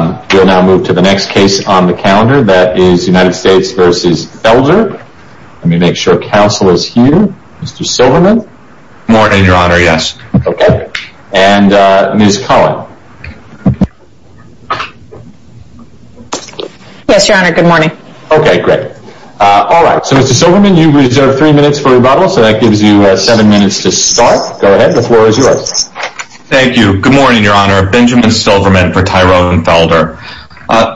We will now move to the next case on the calendar, that is United States v. Felder. Let me make sure counsel is here. Mr. Silverman. Good morning, your honor, yes. And Ms. Cullen. Yes, your honor, good morning. Okay, great. Alright, so Mr. Silverman, you reserve three minutes for rebuttal, so that gives you seven minutes to start. Go ahead, the floor is yours. Thank you. Good morning, your honor. Benjamin Silverman for Tyrone Felder.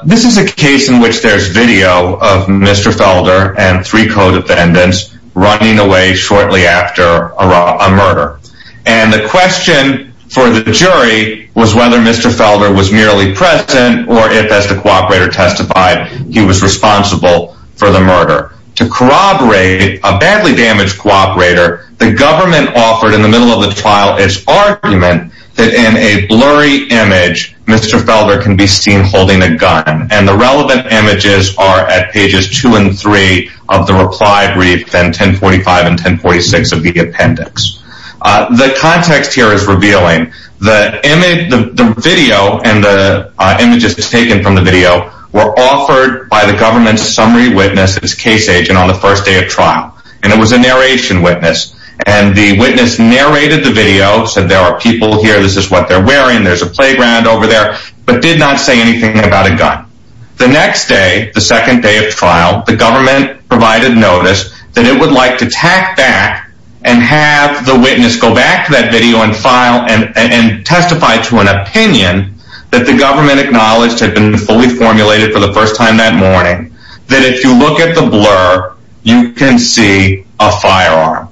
This is a case in which there is video of Mr. Felder and three co-defendants running away shortly after a murder. And the question for the jury was whether Mr. Felder was merely present or if, as the cooperator testified, he was responsible for the murder. To corroborate a badly damaged cooperator, the government offered in the middle of the trial its argument that in a blurry image, Mr. Felder can be seen holding a gun. And the relevant images are at pages two and three of the reply brief and 1045 and 1046 of the appendix. The context here is revealing. The video and the images taken from the video were offered by the government's summary witness, its case agent, on the first day of trial. And it was a narration witness. And the witness narrated the video, said there are people here, this is what they're wearing, there's a playground over there, but did not say anything about a gun. The next day, the second day of trial, the government provided notice that it would like to tack back and have the witness go back to that video and testify to an opinion that the government acknowledged had been fully formulated for the first time that morning. That if you look at the blur, you can see a firearm.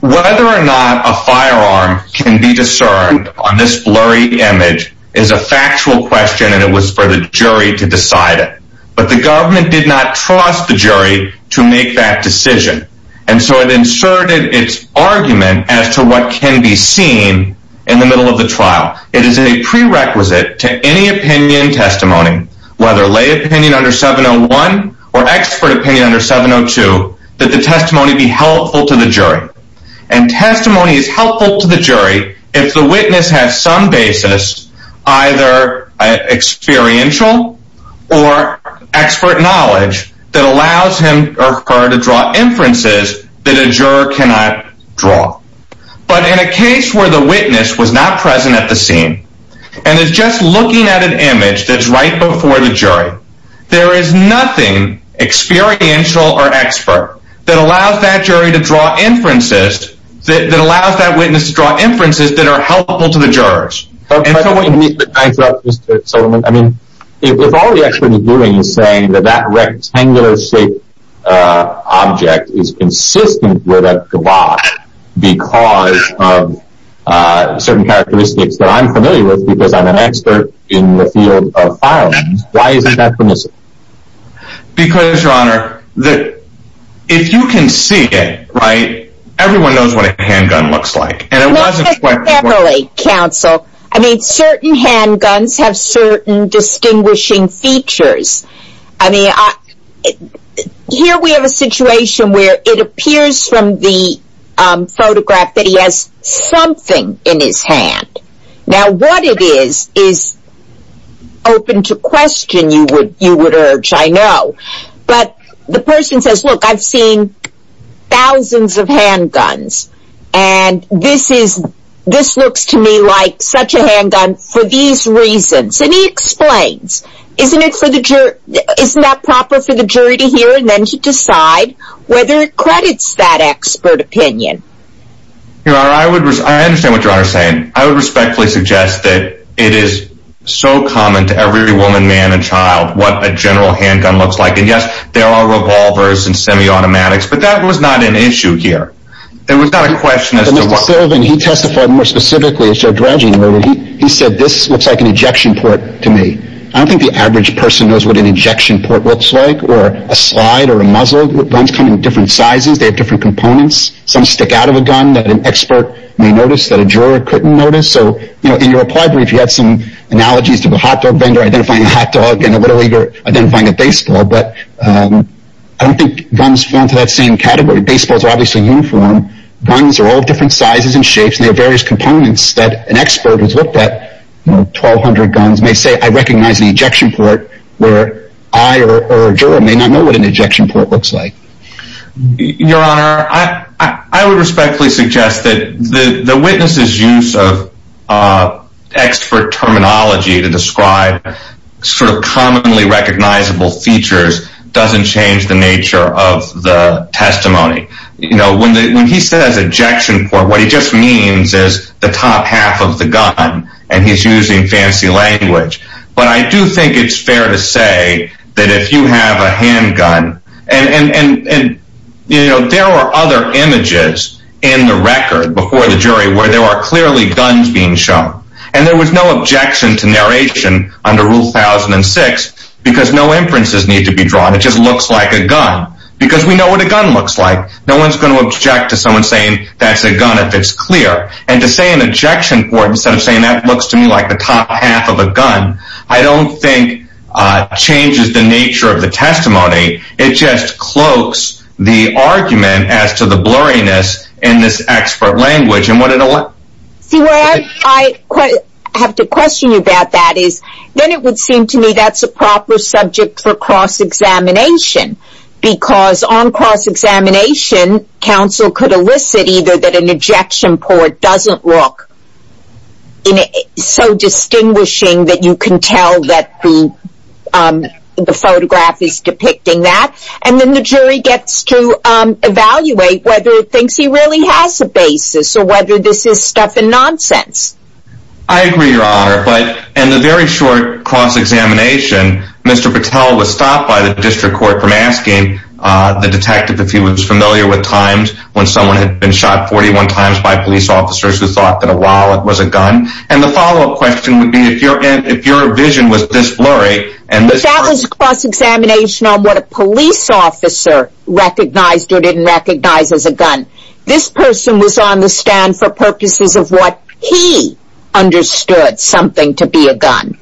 Whether or not a firearm can be discerned on this blurry image is a factual question and it was for the jury to decide it. But the government did not trust the jury to make that decision. And so it inserted its argument as to what can be seen in the middle of the trial. It is a prerequisite to any opinion testimony, whether lay opinion under 701 or expert opinion under 702, that the testimony be helpful to the jury. And testimony is helpful to the jury if the witness has some basis, either experiential or expert knowledge, that allows him or her to draw inferences that a juror cannot draw. But in a case where the witness was not present at the scene and is just looking at an image that is right before the jury, there is nothing experiential or expert that allows that jury to draw inferences, that allows that witness to draw inferences that are helpful to the jurors. If all the expert is doing is saying that that rectangular shaped object is consistent with a guava because of certain characteristics that I'm familiar with because I'm an expert in the field of firearms, why isn't that permissible? Because your honor, if you can see it, everyone knows what a handgun looks like. Not necessarily, counsel. I mean certain handguns have certain distinguishing features. Here we have a situation where it appears from the photograph that he has something in his hand. Now what it is, is open to question you would urge, I know. But the person says, look I've seen thousands of handguns and this looks to me like such a handgun for these reasons. And he explains, isn't that proper for the jury to hear and then to decide whether it credits that expert opinion. Your honor, I understand what your honor is saying. I would respectfully suggest that it is so common to every woman, man and child what a general handgun looks like. And yes, there are revolvers and semi-automatics, but that was not an issue here. It was not a question as to what... But Mr. Silvan, he testified more specifically, he said this looks like an injection port to me. I don't think the average person knows what an injection port looks like or a slide or a muzzle. Guns come in different sizes, they have different components. Some stick out of a gun that an expert may notice that a juror couldn't notice. So in your reply brief you had some analogies to the hotdog vendor identifying a hotdog and a little leaguer identifying a baseball. But I don't think guns fall into that same category. Baseballs are obviously uniform. Guns are all different sizes and shapes and they have various components that an expert who has looked at 1,200 guns may say, I recognize an ejection port where I or a juror may not know what an ejection port looks like. Your Honor, I would respectfully suggest that the witness's use of expert terminology to describe sort of commonly recognizable features doesn't change the nature of the testimony. When he says ejection port, what he just means is the top half of the gun and he's using fancy language. But I do think it's fair to say that if you have a handgun and there are other images in the record before the jury where there are clearly guns being shown. And there was no objection to narration under Rule 1006 because no inferences need to be drawn. It just looks like a gun because we know what a gun looks like. No one's going to object to someone saying that's a gun if it's clear. And to say an ejection port instead of saying that looks to me like the top half of a gun, I don't think changes the nature of the testimony. It just cloaks the argument as to the blurriness in this expert language. See where I have to question you about that is, then it would seem to me that's a proper subject for cross-examination. Because on cross-examination, counsel could elicit either that an ejection port doesn't look so distinguishing that you can tell that the photograph is depicting that. And then the jury gets to evaluate whether it thinks he really has a basis or whether this is stuff and nonsense. I agree, Your Honor. But in the very short cross-examination, Mr. Patel was stopped by the district court from asking the detective if he was familiar with times when someone had been shot 41 times by police officers who thought that a wallet was a gun. And the follow-up question would be if your vision was this blurry. But that was cross-examination on what a police officer recognized or didn't recognize as a gun. This person was on the stand for purposes of what he understood something to be a gun.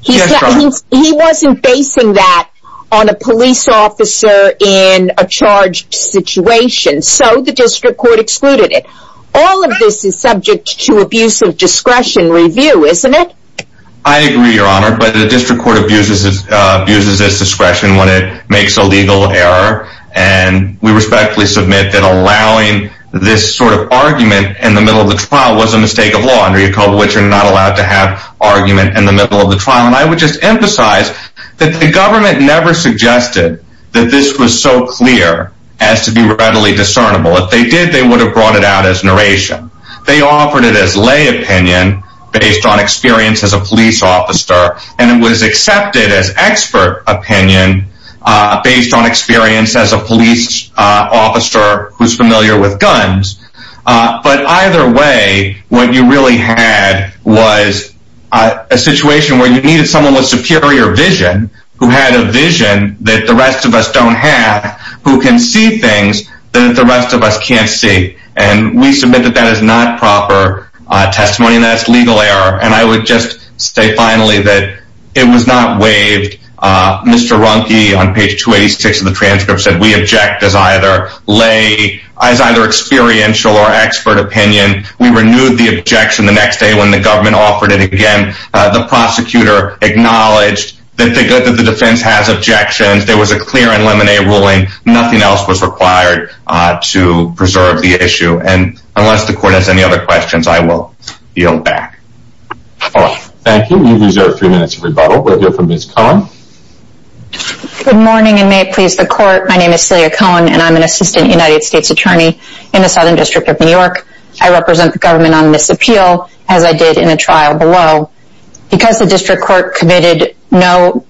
He wasn't basing that on a police officer in a charged situation, so the district court excluded it. All of this is subject to abuse of discretion review, isn't it? I agree, Your Honor. But the district court abuses this discretion when it makes a legal error. And we respectfully submit that allowing this sort of argument in the middle of the trial was a mistake of law under your code of which you're not allowed to have argument in the middle of the trial. And I would just emphasize that the government never suggested that this was so clear as to be readily discernible. If they did, they would have brought it out as narration. They offered it as lay opinion based on experience as a police officer. And it was accepted as expert opinion based on experience as a police officer who's familiar with guns. But either way, what you really had was a situation where you needed someone with superior vision, who had a vision that the rest of us don't have, who can see things that the rest of us can't see. And we submit that that is not proper testimony and that's legal error. And I would just say finally that it was not waived. Mr. Runke on page 286 of the transcript said we object as either experiential or expert opinion. We renewed the objection the next day when the government offered it again. The prosecutor acknowledged that the defense has objections. There was a clear and lemonade ruling. Nothing else was required to preserve the issue. And unless the court has any other questions, I will yield back. Thank you. You've reserved three minutes of rebuttal. We'll hear from Ms. Cohen. Good morning and may it please the court. My name is Celia Cohen and I'm an assistant United States attorney in the Southern District of New York. I represent the government on this appeal as I did in a trial below. Because the district court committed no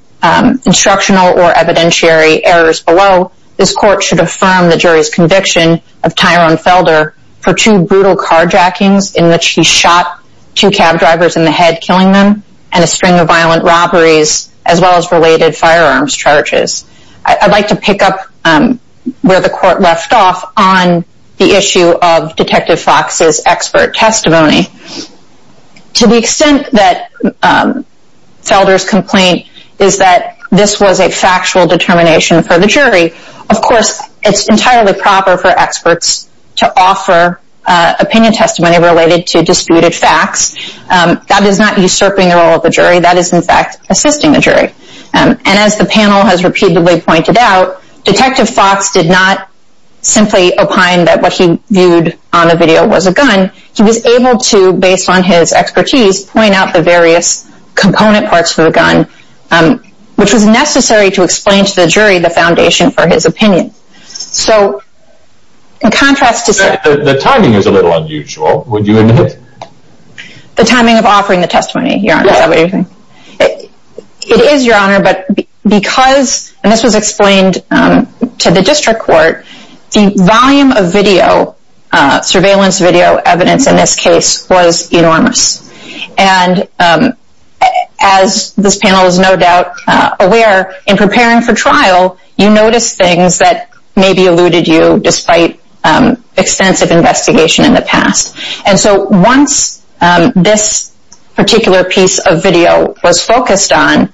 instructional or evidentiary errors below, this court should affirm the jury's conviction of Tyrone Felder for two brutal carjackings in which he shot two cab drivers in the head, killing them, and a string of violent robberies as well as related firearms charges. I'd like to pick up where the court left off on the issue of Detective Fox's expert testimony. To the extent that Felder's complaint is that this was a factual determination for the jury, of course, it's entirely proper for experts to offer opinion testimony related to disputed facts. That is not usurping the role of the jury. That is, in fact, assisting the jury. And as the panel has repeatedly pointed out, Detective Fox did not simply opine that what he viewed on the video was a gun. He was able to, based on his expertise, point out the various component parts of the gun, which was necessary to explain to the jury the foundation for his opinion. So, in contrast to... The timing is a little unusual, would you admit? The timing of offering the testimony, Your Honor, is that what you're saying? Yes. It is, Your Honor, but because, and this was explained to the district court, the volume of surveillance video evidence in this case was enormous. And as this panel is no doubt aware, in preparing for trial, you notice things that maybe eluded you despite extensive investigation in the past. And so, once this particular piece of video was focused on,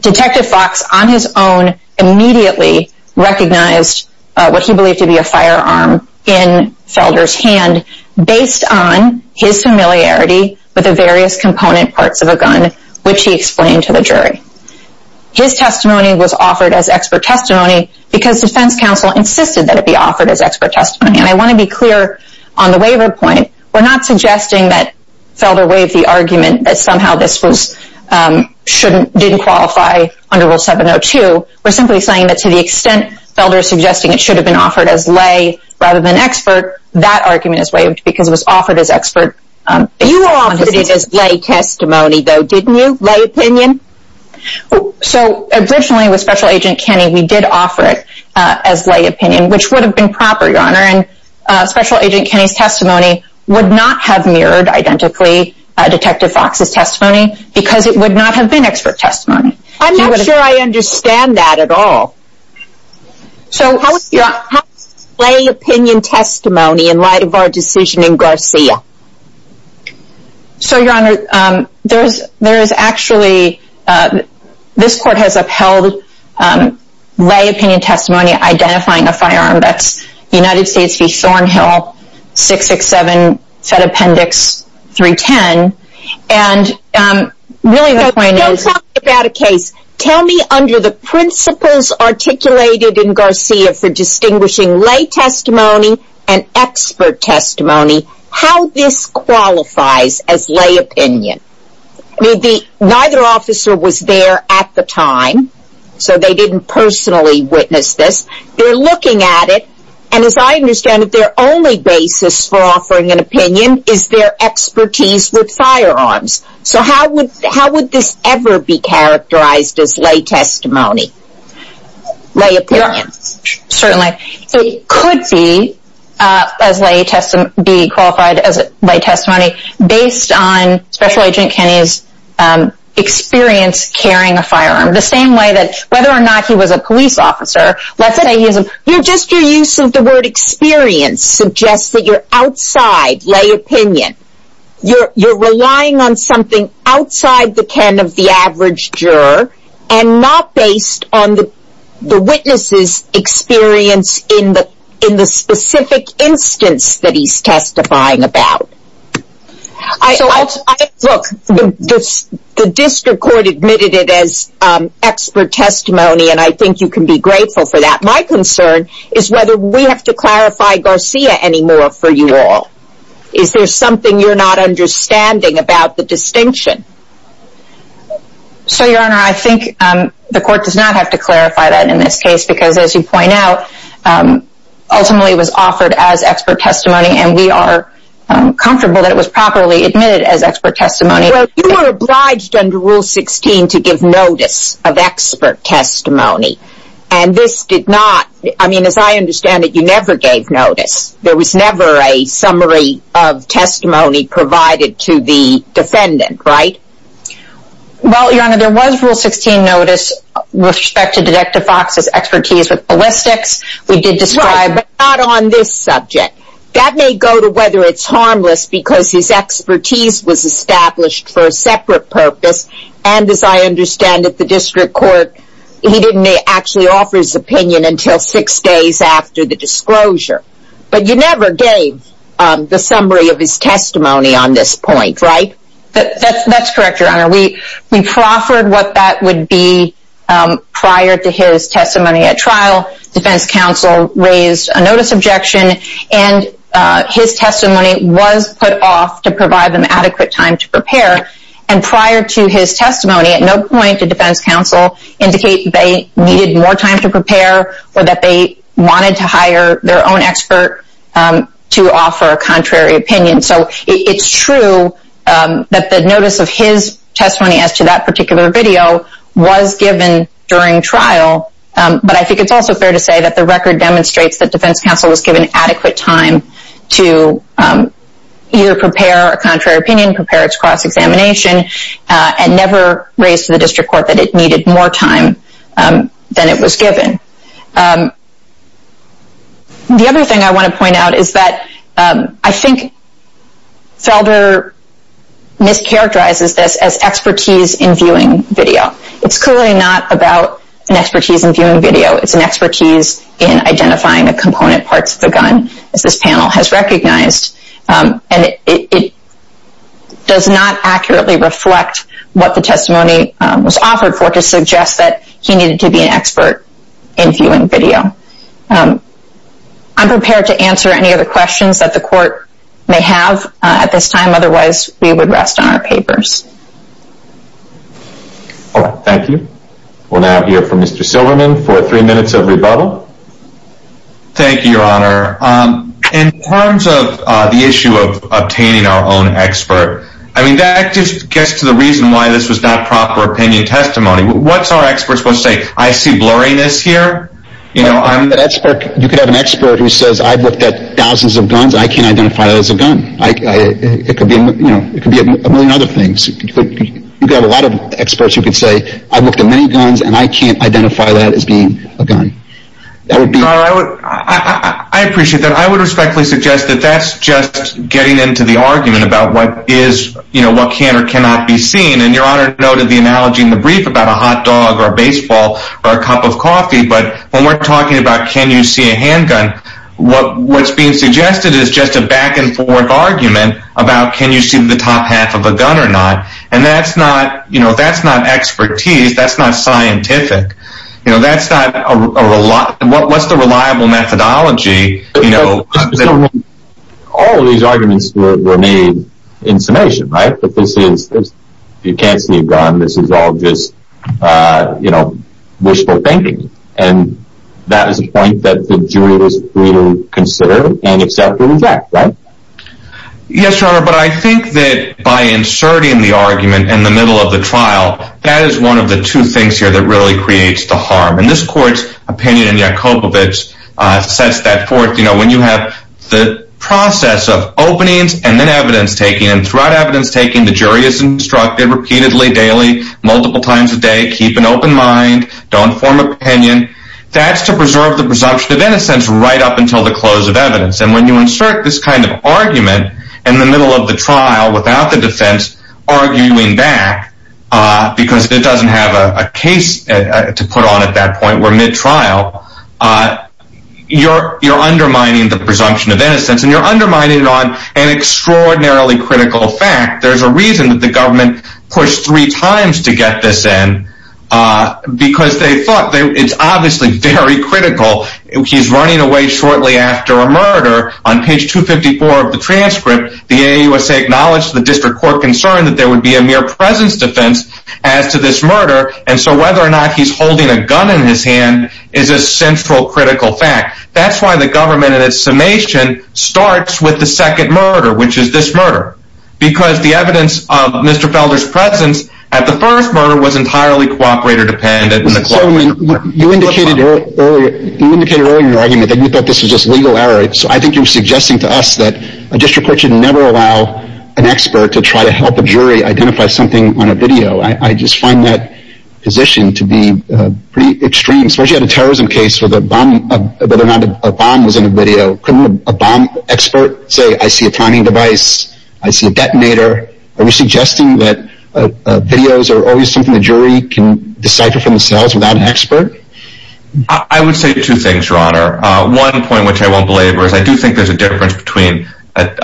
Detective Fox, on his own, immediately recognized what he believed to be a firearm in Felder's hand, based on his familiarity with the various component parts of a gun, which he explained to the jury. His testimony was offered as expert testimony because defense counsel insisted that it be offered as expert testimony. And I want to be clear on the waiver point. We're not suggesting that Felder waived the argument that somehow this didn't qualify under Rule 702. We're simply saying that to the extent Felder is suggesting it should have been offered as lay rather than expert, that argument is waived because it was offered as expert. You offered it as lay testimony, though, didn't you? Lay opinion? So, originally with Special Agent Kenny, we did offer it as lay opinion, which would have been proper, Your Honor. And Special Agent Kenny's testimony would not have mirrored, identically, Detective Fox's testimony because it would not have been expert testimony. I'm not sure I understand that at all. So, how is lay opinion testimony in light of our decision in Garcia? So, Your Honor, there is actually, this court has upheld lay opinion testimony identifying a firearm that's United States v. Thornhill, 667 Fed Appendix 310. And really the point is... Don't talk about a case. Tell me under the principles articulated in Garcia for distinguishing lay testimony and expert testimony, how this qualifies as lay opinion. Neither officer was there at the time, so they didn't personally witness this. They're looking at it, and as I understand it, their only basis for offering an opinion is their expertise with firearms. So, how would this ever be characterized as lay testimony, lay opinion? Certainly. It could be, as lay testimony, be qualified as lay testimony based on Special Agent Kenny's experience carrying a firearm. The same way that, whether or not he was a police officer, let's say he was a... Just your use of the word experience suggests that you're outside lay opinion. You're relying on something outside the ken of the average juror and not based on the witness's experience in the specific instance that he's testifying about. Look, the district court admitted it as expert testimony, and I think you can be grateful for that. My concern is whether we have to clarify Garcia anymore for you all. Is there something you're not understanding about the distinction? So, Your Honor, I think the court does not have to clarify that in this case, because as you point out, ultimately it was offered as expert testimony, and we are comfortable that it was properly admitted as expert testimony. Well, you were obliged under Rule 16 to give notice of expert testimony, and this did not... I mean, as I understand it, you never gave notice. There was never a summary of testimony provided to the defendant, right? Well, Your Honor, there was Rule 16 notice with respect to Detective Fox's expertise with ballistics. We did describe, but not on this subject. That may go to whether it's harmless, because his expertise was established for a separate purpose, and as I understand it, the district court... He didn't actually offer his opinion until six days after the disclosure. But you never gave the summary of his testimony on this point, right? That's correct, Your Honor. We proffered what that would be prior to his testimony at trial. Defense counsel raised a notice objection, and his testimony was put off to provide them adequate time to prepare, and prior to his testimony, at no point did defense counsel indicate they needed more time to prepare or that they wanted to hire their own expert to offer a contrary opinion. So it's true that the notice of his testimony as to that particular video was given during trial, but I think it's also fair to say that the record demonstrates that defense counsel was given adequate time to either prepare a contrary opinion, prepare its cross-examination, and never raised to the district court that it needed more time than it was given. The other thing I want to point out is that I think Felder mischaracterizes this as expertise in viewing video. It's clearly not about an expertise in viewing video. It's an expertise in identifying the component parts of the gun, as this panel has recognized, and it does not accurately reflect what the testimony was offered for to suggest that he needed to be an expert in viewing video. I'm prepared to answer any other questions that the court may have at this time. Otherwise, we would rest on our papers. Thank you. We'll now hear from Mr. Silverman for three minutes of rebuttal. Thank you, Your Honor. In terms of the issue of obtaining our own expert, I mean, that just gets to the reason why this was not proper opinion testimony. What's our expert supposed to say? I see blurriness here. You could have an expert who says, I've looked at thousands of guns. I can't identify that as a gun. It could be a million other things. You could have a lot of experts who could say, I've looked at many guns, and I can't identify that as being a gun. Your Honor, I appreciate that. I would respectfully suggest that that's just getting into the argument about what can or cannot be seen. And Your Honor noted the analogy in the brief about a hot dog or a baseball or a cup of coffee. But when we're talking about can you see a handgun, what's being suggested is just a back-and-forth argument about can you see the top half of a gun or not. And that's not expertise. That's not scientific. What's the reliable methodology? All of these arguments were made in summation, right? If you can't see a gun, this is all just wishful thinking. And that is a point that the jury was free to consider and accept and reject, right? Yes, Your Honor, but I think that by inserting the argument in the middle of the trial, that is one of the two things here that really creates the harm. And this Court's opinion in Yakovlevich sets that forth. You know, when you have the process of openings and then evidence-taking, and throughout evidence-taking, the jury is instructed repeatedly, daily, multiple times a day, keep an open mind, don't form an opinion. That's to preserve the presumption of innocence right up until the close of evidence. And when you insert this kind of argument in the middle of the trial without the defense arguing back, because it doesn't have a case to put on at that point, we're mid-trial, you're undermining the presumption of innocence. And you're undermining it on an extraordinarily critical fact. There's a reason that the government pushed three times to get this in, because they thought it's obviously very critical. He's running away shortly after a murder. On page 254 of the transcript, the AAUSA acknowledged the District Court concern that there would be a mere presence defense as to this murder. And so whether or not he's holding a gun in his hand is a central critical fact. That's why the government, in its summation, starts with the second murder, which is this murder. Because the evidence of Mr. Felder's presence at the first murder was entirely cooperator-dependent. Mr. Coleman, you indicated earlier in your argument that you thought this was just legal error. So I think you're suggesting to us that a district court should never allow an expert to try to help a jury identify something on a video. I just find that position to be pretty extreme. Suppose you had a terrorism case where a bomb was in a video. Couldn't a bomb expert say, I see a timing device, I see a detonator? Are you suggesting that videos are always something the jury can decipher from the cells without an expert? I would say two things, Your Honor. One point, which I won't belabor, is I do think there's a difference between a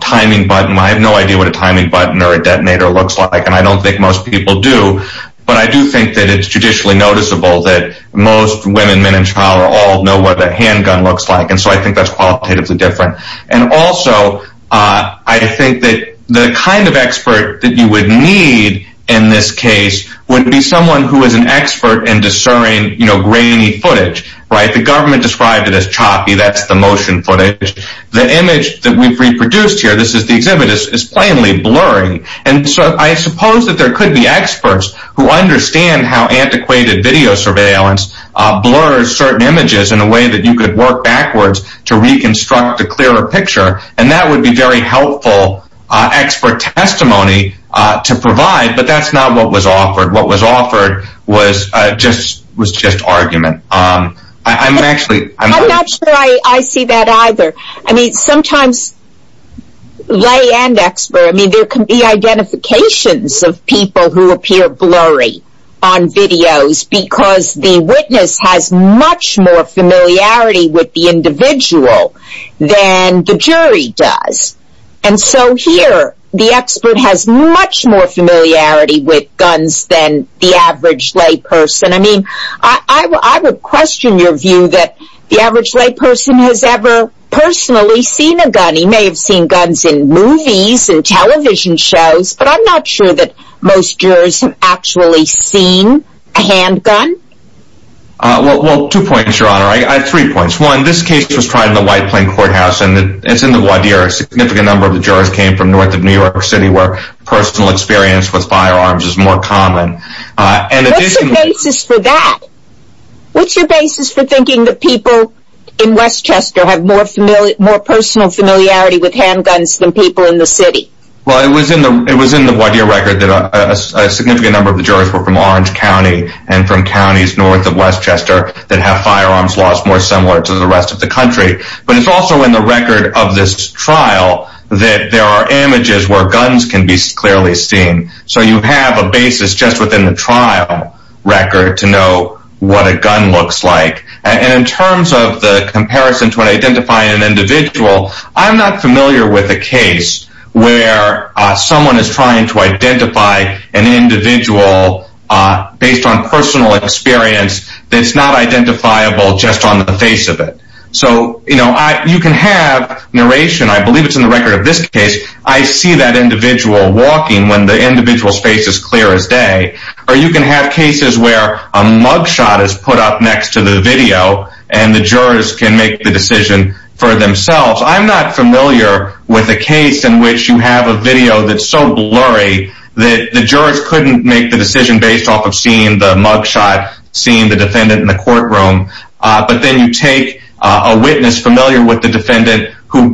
timing button. I have no idea what a timing button or a detonator looks like, and I don't think most people do. But I do think that it's judicially noticeable that most women, men and child, all know what a handgun looks like. And so I think that's qualitatively different. And also, I think that the kind of expert that you would need in this case would be someone who is an expert in discerning grainy footage. The government described it as choppy, that's the motion footage. The image that we've reproduced here, this is the exhibit, is plainly blurry. And so I suppose that there could be experts who understand how antiquated video surveillance blurs certain images in a way that you could work backwards to reconstruct a clearer picture. And that would be very helpful expert testimony to provide, but that's not what was offered. What was offered was just argument. I'm not sure I see that either. I mean, sometimes lay and expert, I mean, there can be identifications of people who appear blurry on videos because the witness has much more familiarity with the individual than the jury does. And so here, the expert has much more familiarity with guns than the average lay person. I mean, I would question your view that the average lay person has ever personally seen a gun. He may have seen guns in movies and television shows, but I'm not sure that most jurors have actually seen a handgun. Well, two points, Your Honor. I have three points. One, this case was tried in the White Plain Courthouse, and it's in the Wadir. A significant number of the jurors came from north of New York City, where personal experience with firearms is more common. What's the basis for that? What's your basis for thinking that people in Westchester have more personal familiarity with handguns than people in the city? Well, it was in the Wadir record that a significant number of the jurors were from Orange County and from counties north of Westchester that have firearms laws more similar to the rest of the country. But it's also in the record of this trial that there are images where guns can be clearly seen. So you have a basis just within the trial record to know what a gun looks like. And in terms of the comparison to identifying an individual, I'm not familiar with a case where someone is trying to identify an individual based on personal experience that's not identifiable just on the face of it. So you can have narration, I believe it's in the record of this case, I see that individual walking when the individual's face is clear as day. Or you can have cases where a mugshot is put up next to the video and the jurors can make the decision for themselves. I'm not familiar with a case in which you have a video that's so blurry that the jurors couldn't make the decision based off of seeing the mugshot, seeing the defendant in the courtroom. But then you take a witness familiar with the defendant who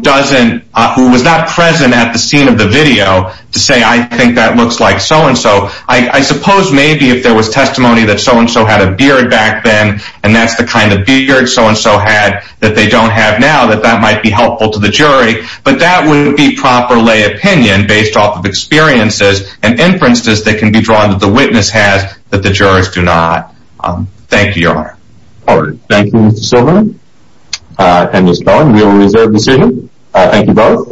was not present at the scene of the video to say, I think that looks like so-and-so. I suppose maybe if there was testimony that so-and-so had a beard back then and that's the kind of beard so-and-so had that they don't have now, that that might be helpful to the jury. But that wouldn't be proper lay opinion based off of experiences and inferences that can be drawn that the witness has that the jurors do not. Thank you, Your Honor. Thank you, Mr. Silverman. And Ms. Bowen, we will reserve the decision. Thank you both.